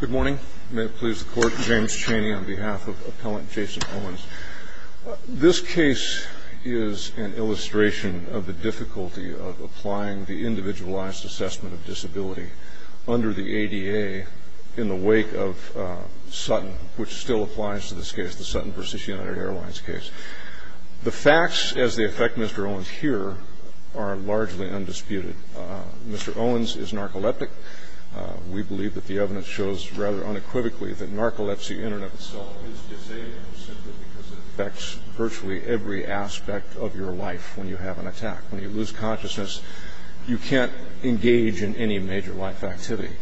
Good morning. May it please the Court, James Chaney on behalf of Appellant Jason Owens. This case is an illustration of the difficulty of applying the Individualized Assessment of Disability under the ADA in the wake of Sutton, which still applies to this case, the Sutton v. United Airlines case. The facts as they affect Mr. Owens here are largely undisputed. Mr. Owens is narcoleptic. We believe that the evidence shows rather unequivocally that narcolepsy in and of itself is disabling simply because it affects virtually every aspect of your life when you have an attack. When you lose consciousness, you can't engage in any major life activity.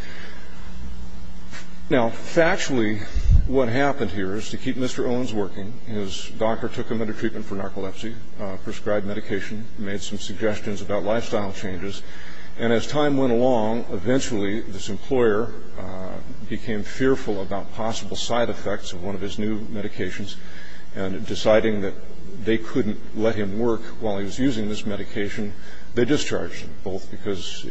Now, factually, what happened here is to keep Mr. Owens working, his doctor took him under treatment for narcolepsy, prescribed medication, made some suggestions about lifestyle changes, and as time went along, eventually this employer became fearful about possible side effects of one of his new medications, and deciding that they couldn't let him work while he was using this medication, they discharged him, both because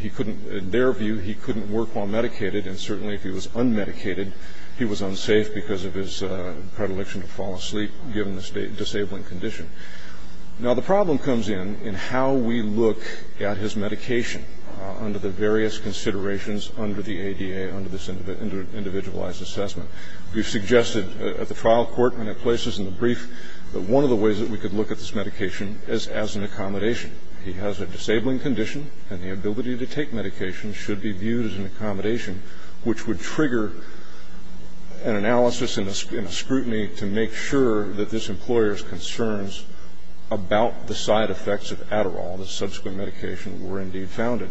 he couldn't, in their view, he couldn't work while medicated, and certainly if he was unmedicated, he was unsafe because of his predilection to fall asleep, given this disabling condition. Now, the problem comes in in how we look at his medication under the various considerations under the ADA, under this individualized assessment. We've suggested at the trial court and at places in the brief that one of the ways that we could look at this medication is as an accommodation. He has a disabling condition, and the ability to take medication should be viewed as an accommodation, which would trigger an analysis and a scrutiny to make sure that this employer's concerns about the side effects of Adderall, the subsequent medication, were indeed founded.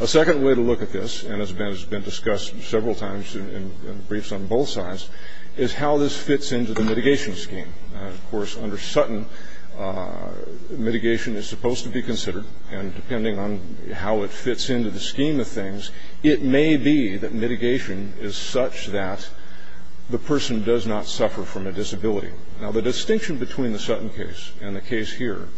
A second way to look at this, and has been discussed several times in briefs on both sides, is how this fits into the mitigation scheme. Of course, under Sutton, mitigation is supposed to be considered, and depending on how it fits into the scheme of things, it may be that mitigation is such that the person does not suffer from a disability. Now, the distinction between the Sutton case and the case here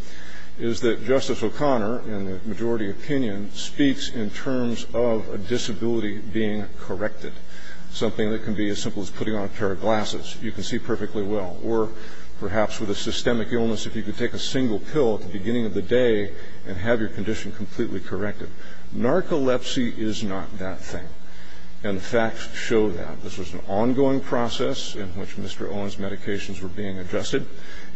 is that Justice O'Connor, in the majority opinion, speaks in terms of a disability being corrected, something that can be as simple as putting on a pair of glasses. You can see perfectly well, or perhaps with a systemic illness, if you could take a single pill at the beginning of the day and have your condition completely corrected. Narcolepsy is not that thing, and the facts show that. This was an ongoing process in which Mr. Owen's medications were being adjusted.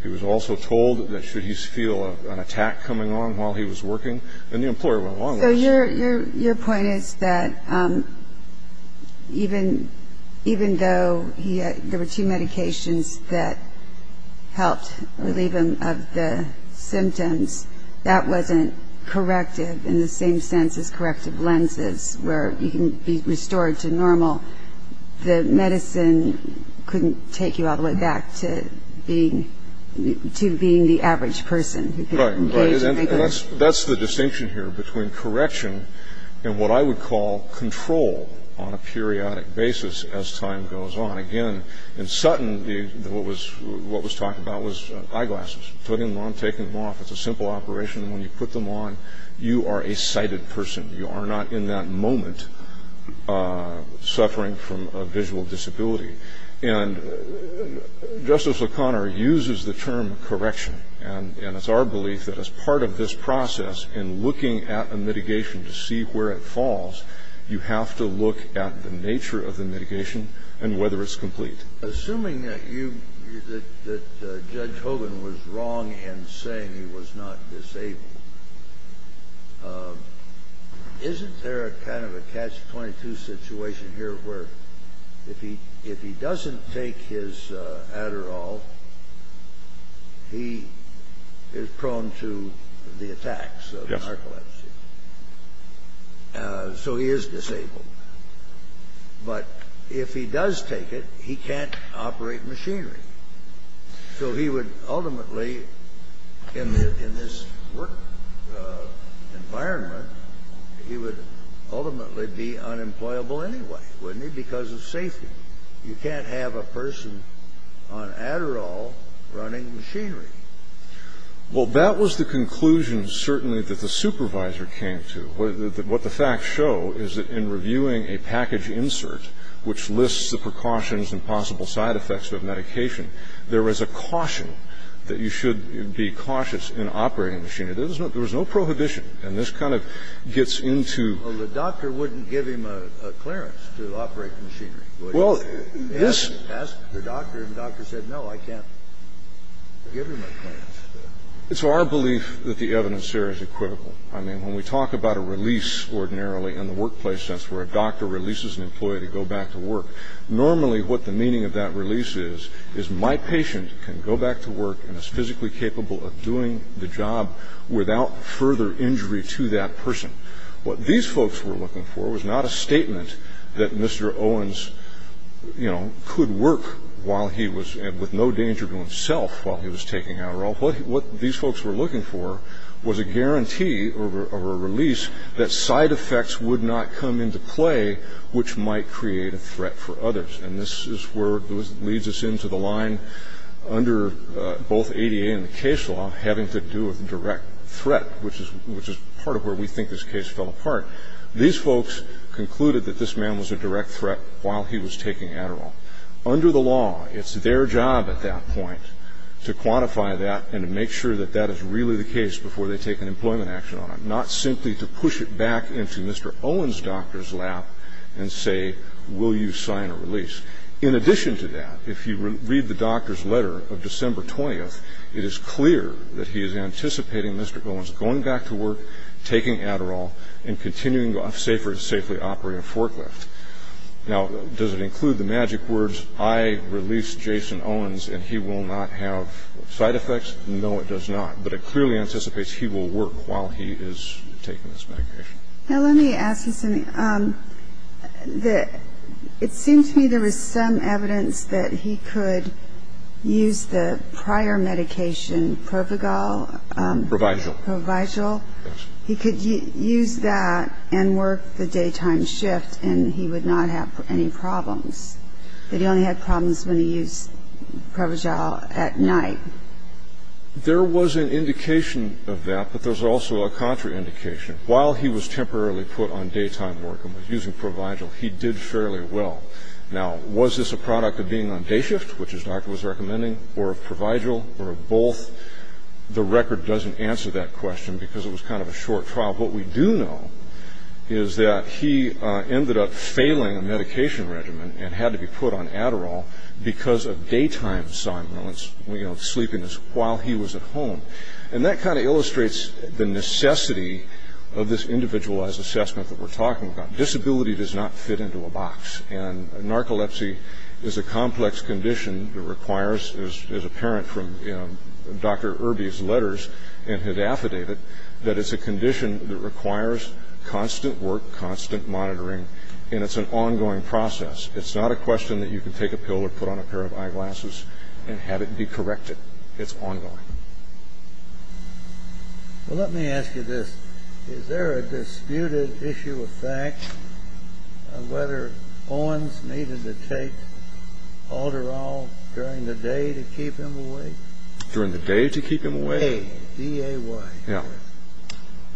He was also told that should he feel an attack coming on while he was working, then the employer went along with it. Your point is that even though there were two medications that helped relieve him of the symptoms, that wasn't corrective in the same sense as corrective lenses, where you can be restored to normal. The medicine couldn't take you all the way back to being the average person. Right. That's the distinction here between correction and what I would call control on a periodic basis as time goes on. Again, in Sutton, what was talked about was eyeglasses. Putting them on, taking them off, it's a simple operation. When you put them on, you are a sighted person. You are not in that moment suffering from a visual disability. Justice O'Connor uses the term correction, and it's our belief that as part of this process in looking at a mitigation to see where it falls, you have to look at the nature of the mitigation and whether it's complete. Assuming that Judge Hogan was wrong in saying he was not disabled, isn't there kind of a catch-22 situation here where if he doesn't take his Adderall, he is prone to the attacks of narcolepsy? Yes. So he is disabled. But if he does take it, he can't operate machinery. So he would ultimately, in this work environment, he would ultimately be unemployable anyway, wouldn't he, because of safety. You can't have a person on Adderall running machinery. Well, that was the conclusion certainly that the supervisor came to. What the facts show is that in reviewing a package insert, which lists the precautions and possible side effects of medication, there is a caution that you should be cautious in operating machinery. There was no prohibition. And this kind of gets into. Well, the doctor wouldn't give him a clearance to operate machinery, would he? Well, yes. Ask the doctor, and the doctor said, no, I can't give him a clearance. It's our belief that the evidence here is equivocal. I mean, when we talk about a release ordinarily in the workplace sense, where a doctor releases an employee to go back to work, normally what the meaning of that release is is my patient can go back to work and is physically capable of doing the job without further injury to that person. What these folks were looking for was not a statement that Mr. Owens could work with no danger to himself while he was taking Adderall. What these folks were looking for was a guarantee or a release that side effects would not come into play, which might create a threat for others. And this is where it leads us into the line under both ADA and the case law having to do with direct threat, which is part of where we think this case fell apart. These folks concluded that this man was a direct threat while he was taking Adderall. Under the law, it's their job at that point to quantify that and to make sure that that is really the case before they take an employment action on him, not simply to push it back into Mr. Owens' doctor's lap and say, will you sign a release? In addition to that, if you read the doctor's letter of December 20th, it is clear that he is anticipating Mr. Owens going back to work, taking Adderall, and continuing to safely operate a forklift. Now, does it include the magic words, I release Jason Owens and he will not have side effects? No, it does not. But it clearly anticipates he will work while he is taking this medication. Now, let me ask you something. It seemed to me there was some evidence that he could use the prior medication, Provigal. Provigal. Provigal. Yes. He could use that and work the daytime shift and he would not have any problems, that he only had problems when he used Provigal at night. There was an indication of that, but there was also a contraindication. While he was temporarily put on daytime work and was using Provigal, he did fairly well. Now, was this a product of being on day shift, which his doctor was recommending, or of Provigal or of both? The record doesn't answer that question because it was kind of a short trial. What we do know is that he ended up failing a medication regimen and had to be put on Adderall because of daytime sleepiness while he was at home. And that kind of illustrates the necessity of this individualized assessment that we're talking about. Disability does not fit into a box. And narcolepsy is a complex condition that requires, as apparent from Dr. Irby's letters and his affidavit, that it's a condition that requires constant work, constant monitoring, and it's an ongoing process. It's not a question that you can take a pill or put on a pair of eyeglasses and have it be corrected. It's ongoing. Well, let me ask you this. Is there a disputed issue of fact of whether Owens needed to take Adderall during the day to keep him awake? During the day to keep him awake? D-A-Y. Yeah.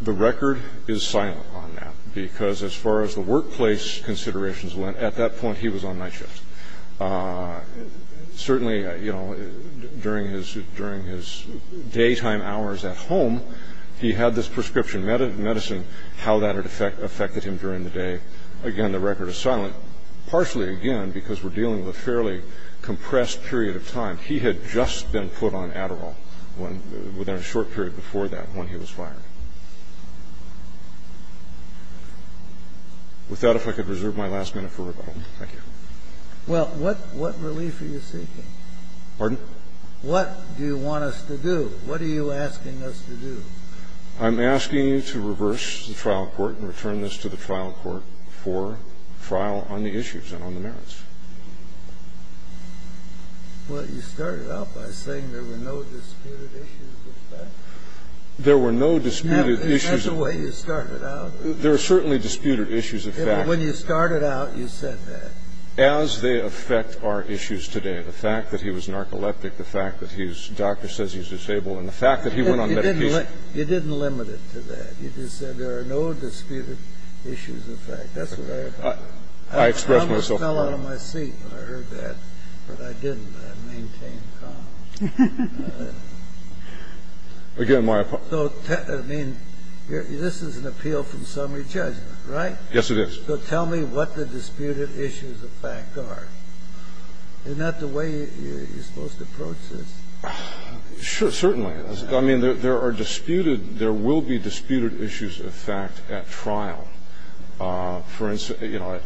The record is silent on that because as far as the workplace considerations went, at that point he was on night shifts. Certainly, you know, during his daytime hours at home, he had this prescription medicine. How that affected him during the day, again, the record is silent, partially, again, because we're dealing with a fairly compressed period of time. He had just been put on Adderall within a short period before that when he was fired. With that, if I could reserve my last minute for rebuttal. Thank you. Well, what relief are you seeking? Pardon? What do you want us to do? What are you asking us to do? I'm asking you to reverse the trial court and return this to the trial court for trial on the issues and on the merits. Well, you started out by saying there were no disputed issues of fact. There were no disputed issues of fact. That's the way you started out. There were certainly disputed issues of fact. When you started out, you said that. As they affect our issues today, the fact that he was narcoleptic, the fact that his doctor says he's disabled, and the fact that he went on medication. You didn't limit it to that. You just said there are no disputed issues of fact. That's what I had to say. I expressed myself. I almost fell out of my seat when I heard that, but I didn't. I maintained calm. Again, my apologies. So, I mean, this is an appeal from summary judgment, right? Yes, it is. So tell me what the disputed issues of fact are. Isn't that the way you're supposed to approach this? Sure, certainly. I mean, there are disputed ‑‑ there will be disputed issues of fact at trial. For instance, you know,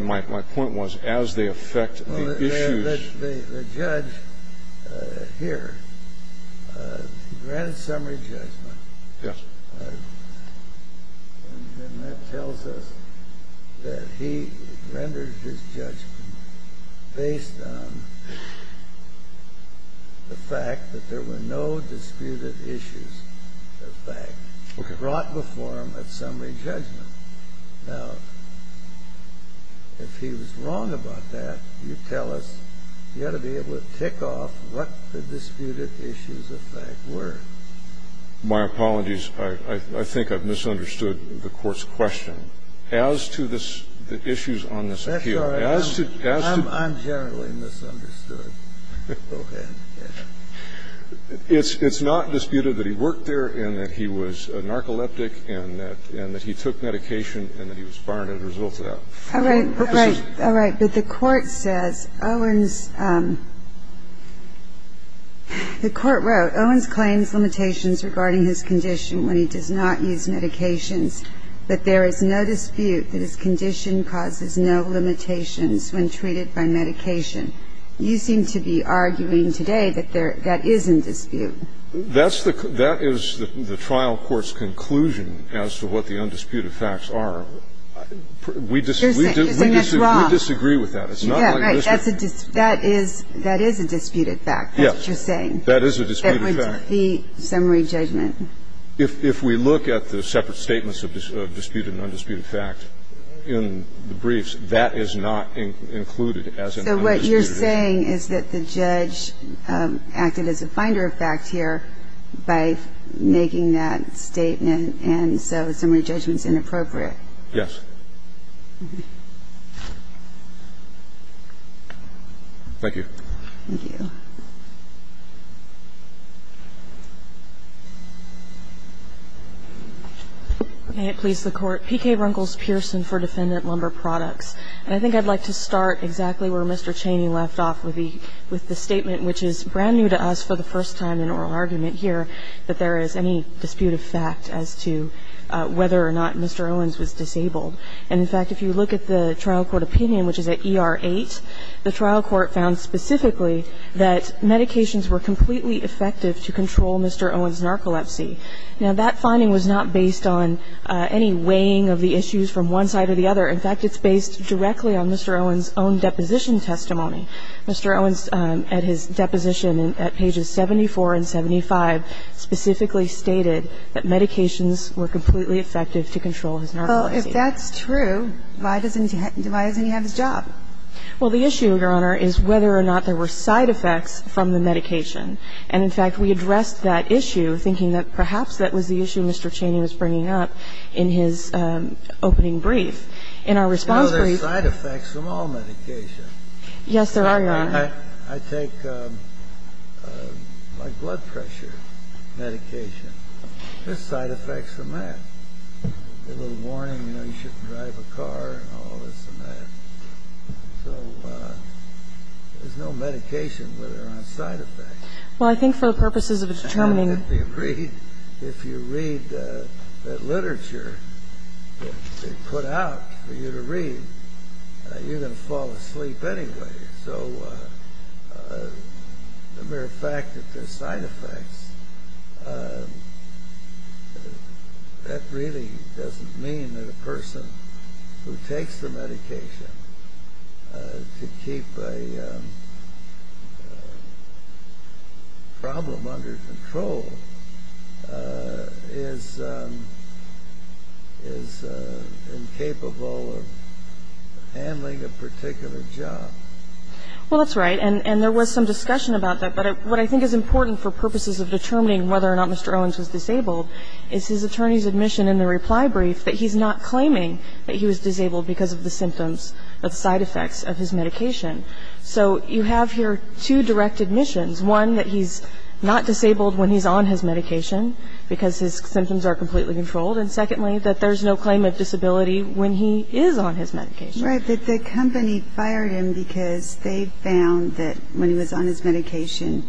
my point was as they affect the issues. The judge here granted summary judgment. Yes. And that tells us that he rendered his judgment based on the fact that there were no disputed issues of fact. Okay. Not before him at summary judgment. Now, if he was wrong about that, you tell us you ought to be able to tick off what the disputed issues of fact were. My apologies. I think I've misunderstood the Court's question. As to the issues on this appeal, as to ‑‑ That's all right. I'm generally misunderstood. Go ahead. It's not disputed that he worked there and that he was a narcoleptic and that he took medication and that he was fired as a result of that. All right. All right. But the Court says Owens ‑‑ the Court wrote, Owens claims limitations regarding his condition when he does not use medications, but there is no dispute that his condition causes no limitations when treated by medication. You seem to be arguing today that that is in dispute. That is the trial court's conclusion as to what the undisputed facts are. You're saying that's wrong. We disagree with that. Yeah, right. That is a disputed fact. That's what you're saying. That is a disputed fact. That would defeat summary judgment. If we look at the separate statements of disputed and undisputed fact in the briefs, that is not included as an undisputed fact. So what you're saying is that the judge acted as a finder of fact here by making that statement, and so summary judgment is inappropriate. Yes. Thank you. Thank you. May it please the Court. PK Runkles‑Pearson for Defendant Lumber Products. And I think I'd like to start exactly where Mr. Chaney left off with the statement, which is brand new to us for the first time in oral argument here, that there is any disputed fact as to whether or not Mr. Owens was disabled. And, in fact, if you look at the trial court opinion, which is at ER 8, the trial court found specifically that medications were completely effective to control Mr. Owens' narcolepsy. Now, that finding was not based on any weighing of the issues from one side or the other. In fact, it's based directly on Mr. Owens' own deposition testimony. Mr. Owens, at his deposition at pages 74 and 75, specifically stated that medications were completely effective to control his narcolepsy. Well, if that's true, why doesn't he have his job? Well, the issue, Your Honor, is whether or not there were side effects from the medication. And, in fact, we addressed that issue thinking that perhaps that was the issue Mr. In our response brief. You know, there are side effects from all medications. Yes, there are, Your Honor. I take my blood pressure medication. There are side effects from that. A little warning, you know, you shouldn't drive a car and all this and that. So there's no medication that are on side effects. Well, I think for the purposes of determining the case. that they put out for you to read, you're going to fall asleep anyway. So the mere fact that there are side effects, that really doesn't mean that a person who takes the medication to keep a problem under control is incapable of handling a particular job. Well, that's right. And there was some discussion about that. But what I think is important for purposes of determining whether or not Mr. Owens was disabled is his attorney's admission in the reply brief that he's not claiming that he was disabled because of the symptoms of side effects of his medication. So you have here two direct admissions. One, that he's not disabled when he's on his medication because his symptoms are completely controlled. And secondly, that there's no claim of disability when he is on his medication. Right, that the company fired him because they found that when he was on his medication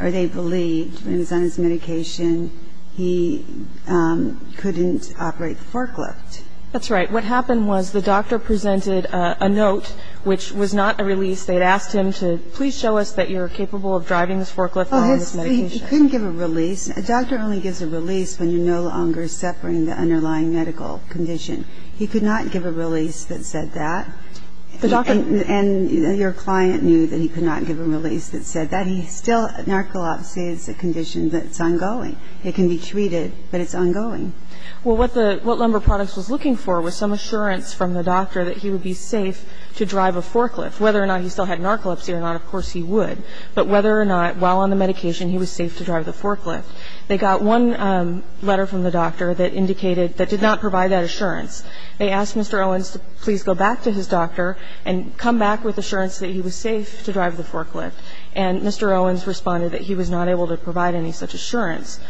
or they believed when he was on his medication, he couldn't operate the forklift. That's right. What happened was the doctor presented a note, which was not a release. They had asked him to please show us that you're capable of driving this forklift on this medication. Well, he couldn't give a release. A doctor only gives a release when you're no longer suffering the underlying medical condition. He could not give a release that said that. And your client knew that he could not give a release that said that. He still, narcolepsy is a condition that's ongoing. It can be treated, but it's ongoing. Well, what the, what Lumber Products was looking for was some assurance from the doctor that he would be safe to drive a forklift. Whether or not he still had narcolepsy or not, of course he would. But whether or not, while on the medication, he was safe to drive the forklift. They got one letter from the doctor that indicated, that did not provide that assurance. They asked Mr. Owens to please go back to his doctor and come back with assurance that he was safe to drive the forklift. And Mr. Owens responded that he was not able to provide any such assurance.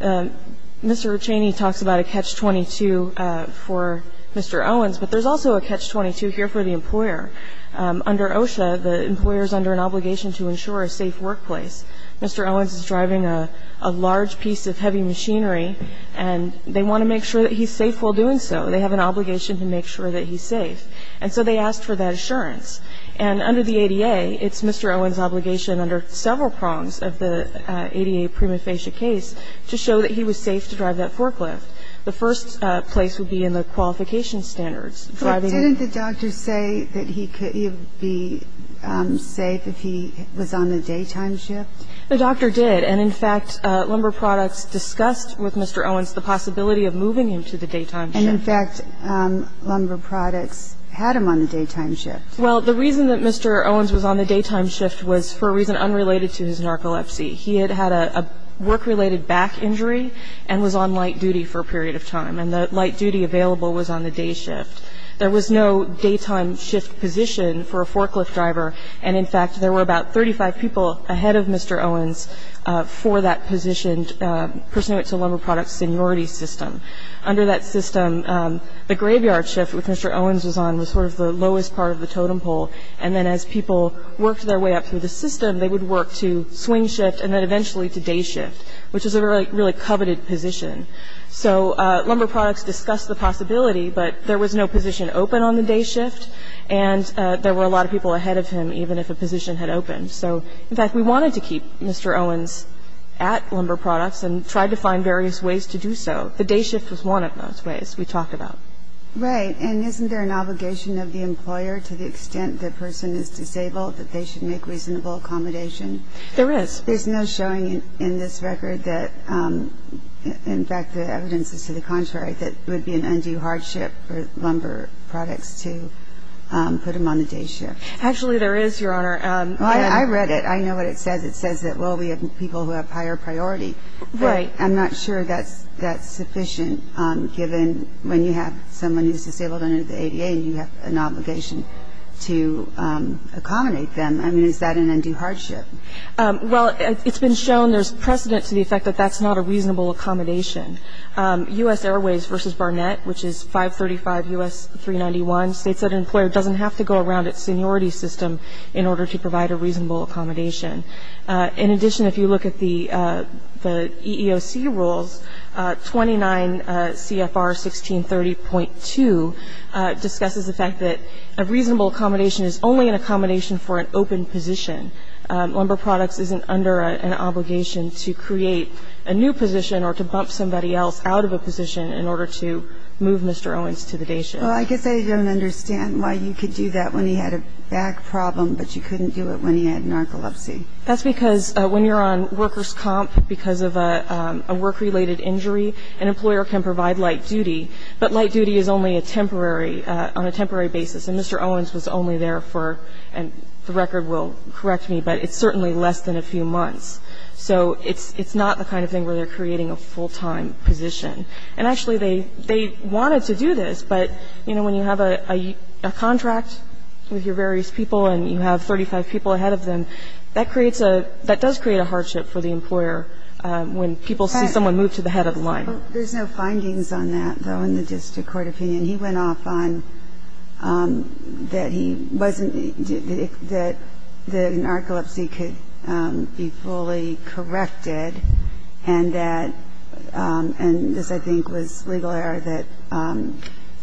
Mr. Chaney talks about a catch-22 for Mr. Owens, but there's also a catch-22 here for the employer. Under OSHA, the employer is under an obligation to ensure a safe workplace. Mr. Owens is driving a large piece of heavy machinery, and they want to make sure that he's safe while doing so. They have an obligation to make sure that he's safe. And so they asked for that assurance. And under the ADA, it's Mr. Owens' obligation under several prongs of the ADA prima facie case to show that he was safe to drive that forklift. The first place would be in the qualification standards. Driving the forklift. Didn't the doctor say that he could be safe if he was on the daytime shift? The doctor did. And, in fact, Lumber Products discussed with Mr. Owens the possibility of moving him to the daytime shift. And, in fact, Lumber Products had him on the daytime shift. Well, the reason that Mr. Owens was on the daytime shift was for a reason unrelated to his narcolepsy. He had had a work-related back injury and was on light duty for a period of time. And the light duty available was on the day shift. There was no daytime shift position for a forklift driver. And, in fact, there were about 35 people ahead of Mr. Owens for that positioned person who went to Lumber Products' seniority system. Under that system, the graveyard shift, which Mr. Owens was on, was sort of the lowest part of the totem pole. And then as people worked their way up through the system, they would work to swing shift and then eventually to day shift, which was a really coveted position. So Lumber Products discussed the possibility, but there was no position open on the day shift. And there were a lot of people ahead of him, even if a position had opened. So, in fact, we wanted to keep Mr. Owens at Lumber Products and tried to find various ways to do so. The day shift was one of those ways we talked about. Right. And isn't there an obligation of the employer to the extent the person is disabled that they should make reasonable accommodation? There is. There's no showing in this record that, in fact, the evidence is to the contrary, that it would be an undue hardship for Lumber Products to put him on the day shift. Actually, there is, Your Honor. I read it. I know what it says. It says that, well, we have people who have higher priority. Right. I'm not sure that's sufficient given when you have someone who's disabled under the ADA and you have an obligation to accommodate them. I mean, is that an undue hardship? Well, it's been shown there's precedent to the effect that that's not a reasonable accommodation. U.S. Airways v. Barnett, which is 535 U.S. 391, states that an employer doesn't have to go around its seniority system in order to provide a reasonable accommodation. In addition, if you look at the EEOC rules, 29 CFR 1630.2 discusses the fact that a reasonable accommodation is only an accommodation for an open position. Lumber Products isn't under an obligation to create a new position or to bump somebody else out of a position in order to move Mr. Owens to the day shift. Well, I guess I don't understand why you could do that when he had a back problem, but you couldn't do it when he had narcolepsy. That's because when you're on workers' comp because of a work-related injury, an employer can provide light duty, but light duty is only a temporary, on a temporary basis. And Mr. Owens was only there for, and the record will correct me, but it's certainly less than a few months. So it's not the kind of thing where they're creating a full-time position. And when you have a contract with your various people and you have 35 people ahead of them, that creates a, that does create a hardship for the employer when people see someone move to the head of the line. There's no findings on that, though, in the district court opinion. He went off on that he wasn't, that the narcolepsy could be fully corrected and that, and this I think was legal error, that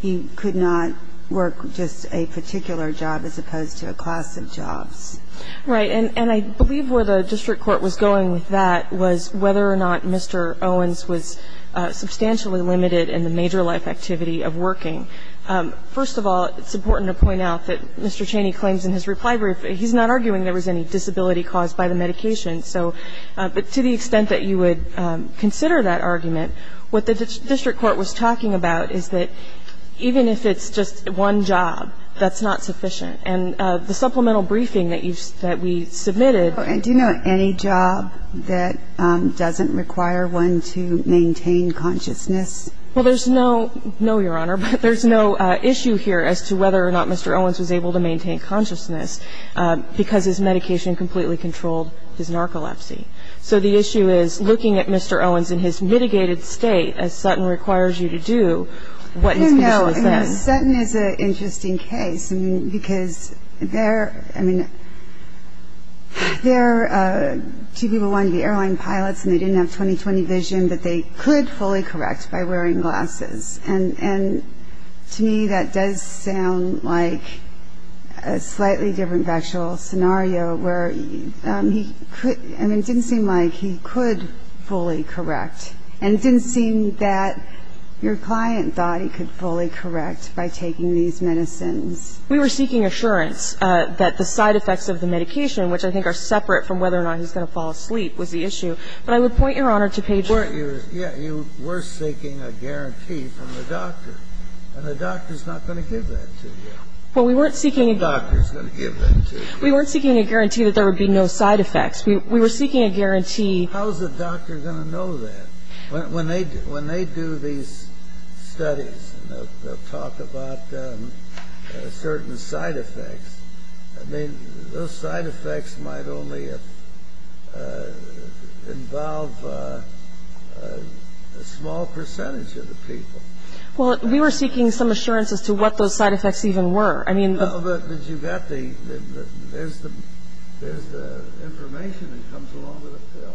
he could not work just a particular job as opposed to a class of jobs. Right. And I believe where the district court was going with that was whether or not Mr. Owens was substantially limited in the major life activity of working. First of all, it's important to point out that Mr. Cheney claims in his reply brief he's not arguing there was any disability caused by the medication. So to the extent that you would consider that argument, what the district court was talking about is that even if it's just one job, that's not sufficient. And the supplemental briefing that we submitted. Do you know of any job that doesn't require one to maintain consciousness? Well, there's no, no, Your Honor, but there's no issue here as to whether or not Mr. Owens was able to maintain consciousness because his medication completely controlled his narcolepsy. So the issue is looking at Mr. Owens in his mitigated state, as Sutton requires you to do, what his condition was then. No, no. Sutton is an interesting case because there, I mean, there are two people who wanted to be airline pilots and they didn't have 20-20 vision, but they could fully correct by wearing glasses. And to me that does sound like a slightly different factual scenario where he could, I mean, it didn't seem like he could fully correct. And it didn't seem that your client thought he could fully correct by taking these medicines. We were seeking assurance that the side effects of the medication, which I think are separate from whether or not he's going to fall asleep, was the issue. But I would point, Your Honor, to page 4. Yeah, you were seeking a guarantee from the doctor. And the doctor's not going to give that to you. Well, we weren't seeking a guarantee. The doctor's going to give that to you. We weren't seeking a guarantee that there would be no side effects. We were seeking a guarantee. How is the doctor going to know that? When they do these studies and they'll talk about certain side effects, I mean, those side effects might only involve a small percentage of the people. Well, we were seeking some assurance as to what those side effects even were. Well, but you've got the, there's the information that comes along with the pill.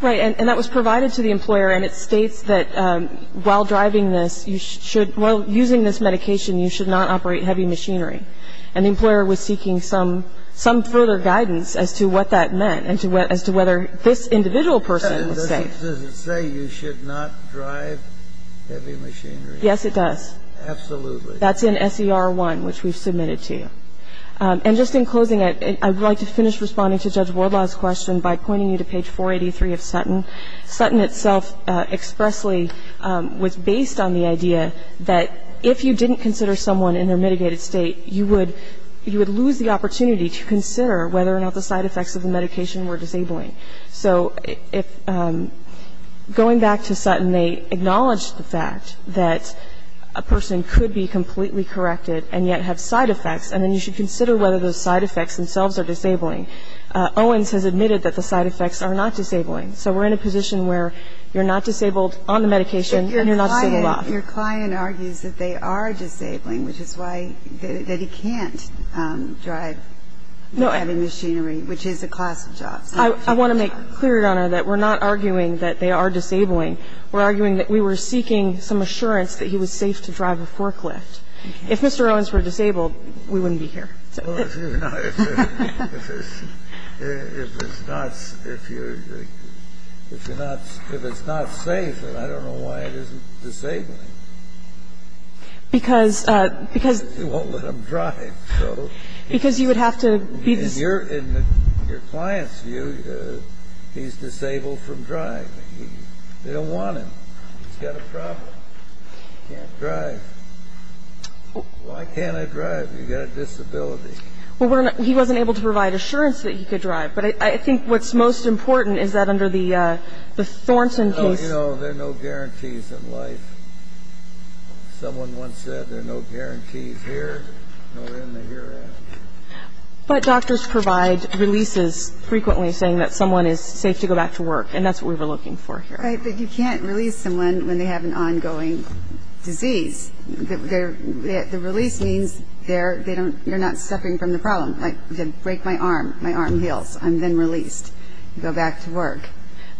Right. And that was provided to the employer, and it states that while driving this, using this medication, you should not operate heavy machinery. And the employer was seeking some further guidance as to what that meant and as to whether this individual person was safe. Does it say you should not drive heavy machinery? Yes, it does. Absolutely. That's in S.E.R. 1, which we've submitted to you. And just in closing, I would like to finish responding to Judge Wardlaw's question by pointing you to page 483 of Sutton. Sutton itself expressly was based on the idea that if you didn't consider someone in their mitigated state, you would lose the opportunity to consider whether or not the side effects of the medication were disabling. So going back to Sutton, they acknowledged the fact that a person could be completely corrected and yet have side effects, and then you should consider whether those side effects themselves are disabling. Owens has admitted that the side effects are not disabling. So we're in a position where you're not disabled on the medication and you're not disabled off. But your client argues that they are disabling, which is why that he can't drive heavy machinery, which is a class of jobs. I want to make clear, Your Honor, that we're not arguing that they are disabling. We're arguing that we were seeking some assurance that he was safe to drive a forklift. If Mr. Owens were disabled, we wouldn't be here. If it's not safe, I don't know why it isn't disabling. Because you won't let him drive, so. Because you would have to be the same. In your client's view, he's disabled from driving. They don't want him. He's got a problem. He can't drive. Why can't I drive? You've got a disability. Well, he wasn't able to provide assurance that he could drive. But I think what's most important is that under the Thornton case. Oh, you know, there are no guarantees in life. Someone once said there are no guarantees here, nor in the hereafter. But doctors provide releases frequently saying that someone is safe to go back to work, and that's what we were looking for here. Right. But you can't release someone when they have an ongoing disease. The release means they're not suffering from the problem. Like, they break my arm. My arm heals. I'm then released. I go back to work.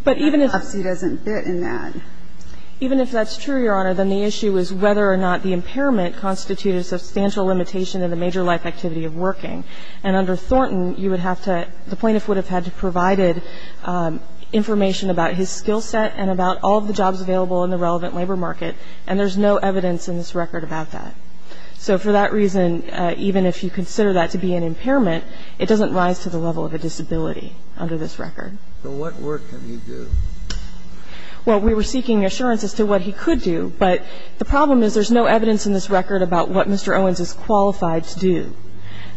But even if the policy doesn't fit in that. Even if that's true, Your Honor, then the issue is whether or not the impairment constitutes a substantial limitation in the major life activity of working. And under Thornton, you would have to, the plaintiff would have had to have provided information about his skill set and about all of the jobs available in the relevant labor market. And there's no evidence in this record about that. So for that reason, even if you consider that to be an impairment, it doesn't rise to the level of a disability under this record. So what work can he do? Well, we were seeking assurance as to what he could do. But the problem is there's no evidence in this record about what Mr. Owens is qualified to do.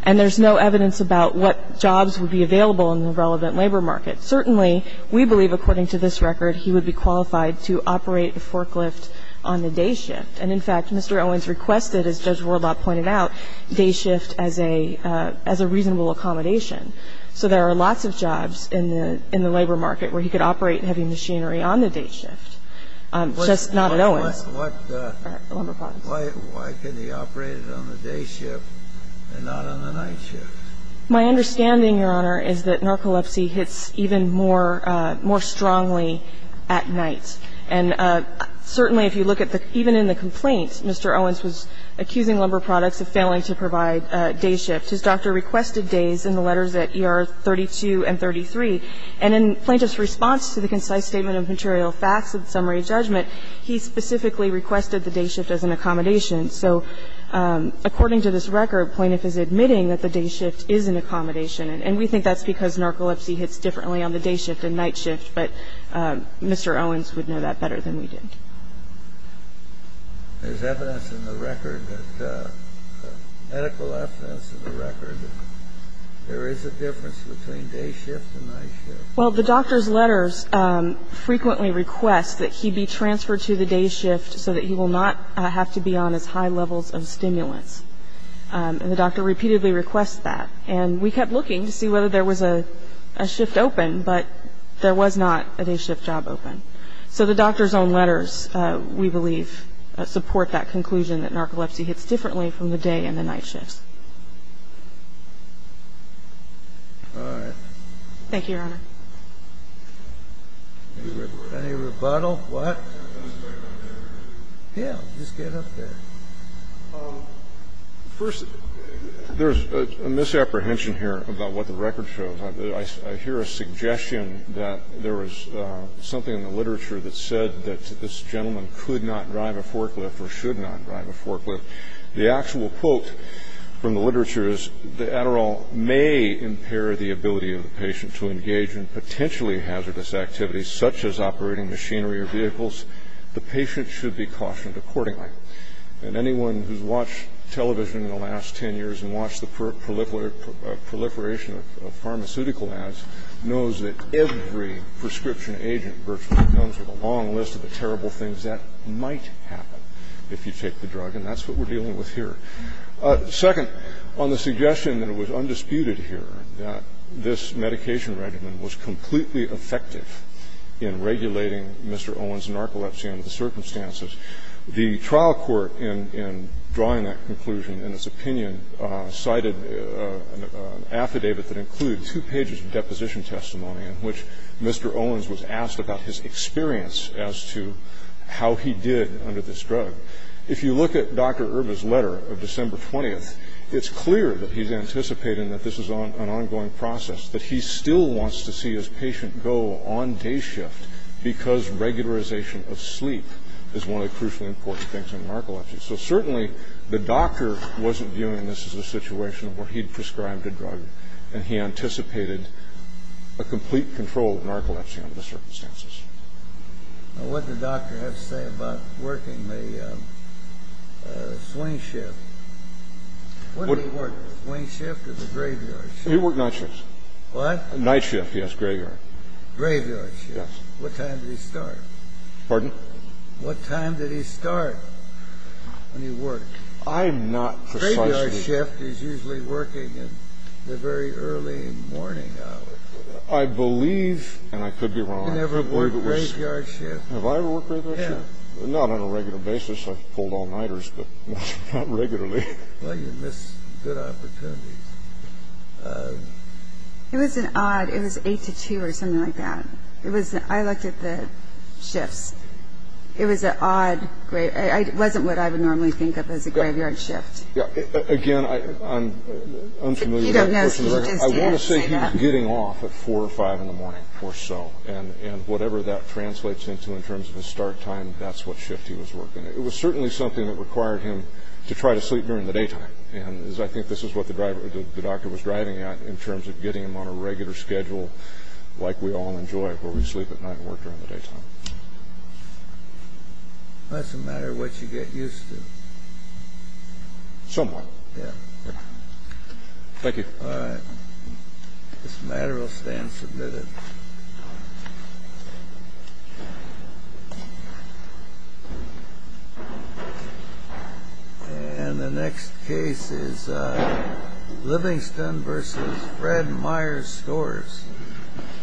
And there's no evidence about what jobs would be available in the relevant labor market. Certainly, we believe, according to this record, he would be qualified to operate a forklift on the day shift. And, in fact, Mr. Owens requested, as Judge Wardlop pointed out, day shift as a reasonable accommodation. So there are lots of jobs in the labor market where he could operate heavy machinery on the day shift, just not at Owens. Why can he operate it on the day shift and not on the night shift? My understanding, Your Honor, is that narcolepsy hits even more strongly at night. And certainly, if you look at the – even in the complaint, Mr. Owens was accusing Lumber Products of failing to provide day shift. His doctor requested days in the letters at ER 32 and 33. And in Plaintiff's response to the concise statement of material facts and summary judgment, he specifically requested the day shift as an accommodation. So according to this record, Plaintiff is admitting that the day shift is an accommodation. And we think that's because narcolepsy hits differently on the day shift than night shift, but Mr. Owens would know that better than we did. There's evidence in the record that – medical evidence in the record that there is a difference between day shift and night shift. Well, the doctor's letters frequently request that he be transferred to the day shift so that he will not have to be on as high levels of stimulants. And the doctor repeatedly requests that. And we kept looking to see whether there was a shift open, but there was not a day shift job open. So the doctor's own letters, we believe, support that conclusion that narcolepsy hits differently from the day and the night shifts. All right. Thank you, Your Honor. Any rebuttal? What? Yeah, just get up there. First, there's a misapprehension here about what the record shows. I hear a suggestion that there was something in the literature that said that this gentleman could not drive a forklift or should not drive a forklift. The actual quote from the literature is that Adderall may impair the ability of the patient to engage in potentially hazardous activities such as operating machinery or vehicles. The patient should be cautioned accordingly. And anyone who's watched television in the last 10 years and watched the proliferation of pharmaceutical ads knows that every prescription agent virtually comes with a long list of the terrible things that might happen if you take the drug. And that's what we're dealing with here. Second, on the suggestion that it was undisputed here that this medication regimen was completely effective in regulating Mr. Owens' narcolepsy under the circumstances, the trial court, in drawing that conclusion in its opinion, cited an affidavit that included two pages of deposition testimony in which Mr. Owens was asked about his experience as to how he did under this drug. If you look at Dr. Erba's letter of December 20th, it's clear that he's anticipating that this is an ongoing process, that he still wants to see his patient go on day shift because regularization of sleep is one of the crucially important things in narcolepsy. So certainly the doctor wasn't viewing this as a situation where he'd prescribed a drug and he anticipated a complete control of narcolepsy under the circumstances. Now, what did the doctor have to say about working the swing shift? Wasn't he working the swing shift or the graveyard shift? He worked night shifts. What? Night shift, yes, graveyard. Graveyard shift. Yes. What time did he start? Pardon? What time did he start when he worked? I'm not precise. Graveyard shift is usually working in the very early morning hours. I believe, and I could be wrong. You've never worked graveyard shift? Have I ever worked graveyard shift? No. Not on a regular basis. I've pulled all-nighters, but not regularly. Well, you miss good opportunities. It was an odd, it was 8 to 2 or something like that. I looked at the shifts. It was an odd, it wasn't what I would normally think of as a graveyard shift. Again, I'm unfamiliar with that. He doesn't know. He just didn't say that. He was getting off at 4 or 5 in the morning or so, and whatever that translates into in terms of his start time, that's what shift he was working. It was certainly something that required him to try to sleep during the daytime, and I think this is what the doctor was driving at in terms of getting him on a regular schedule like we all enjoy where we sleep at night and work during the daytime. It doesn't matter what you get used to. Somewhat. Thank you. All right. This matter will stand submitted. And the next case is Livingston v. Fred Myers Scores.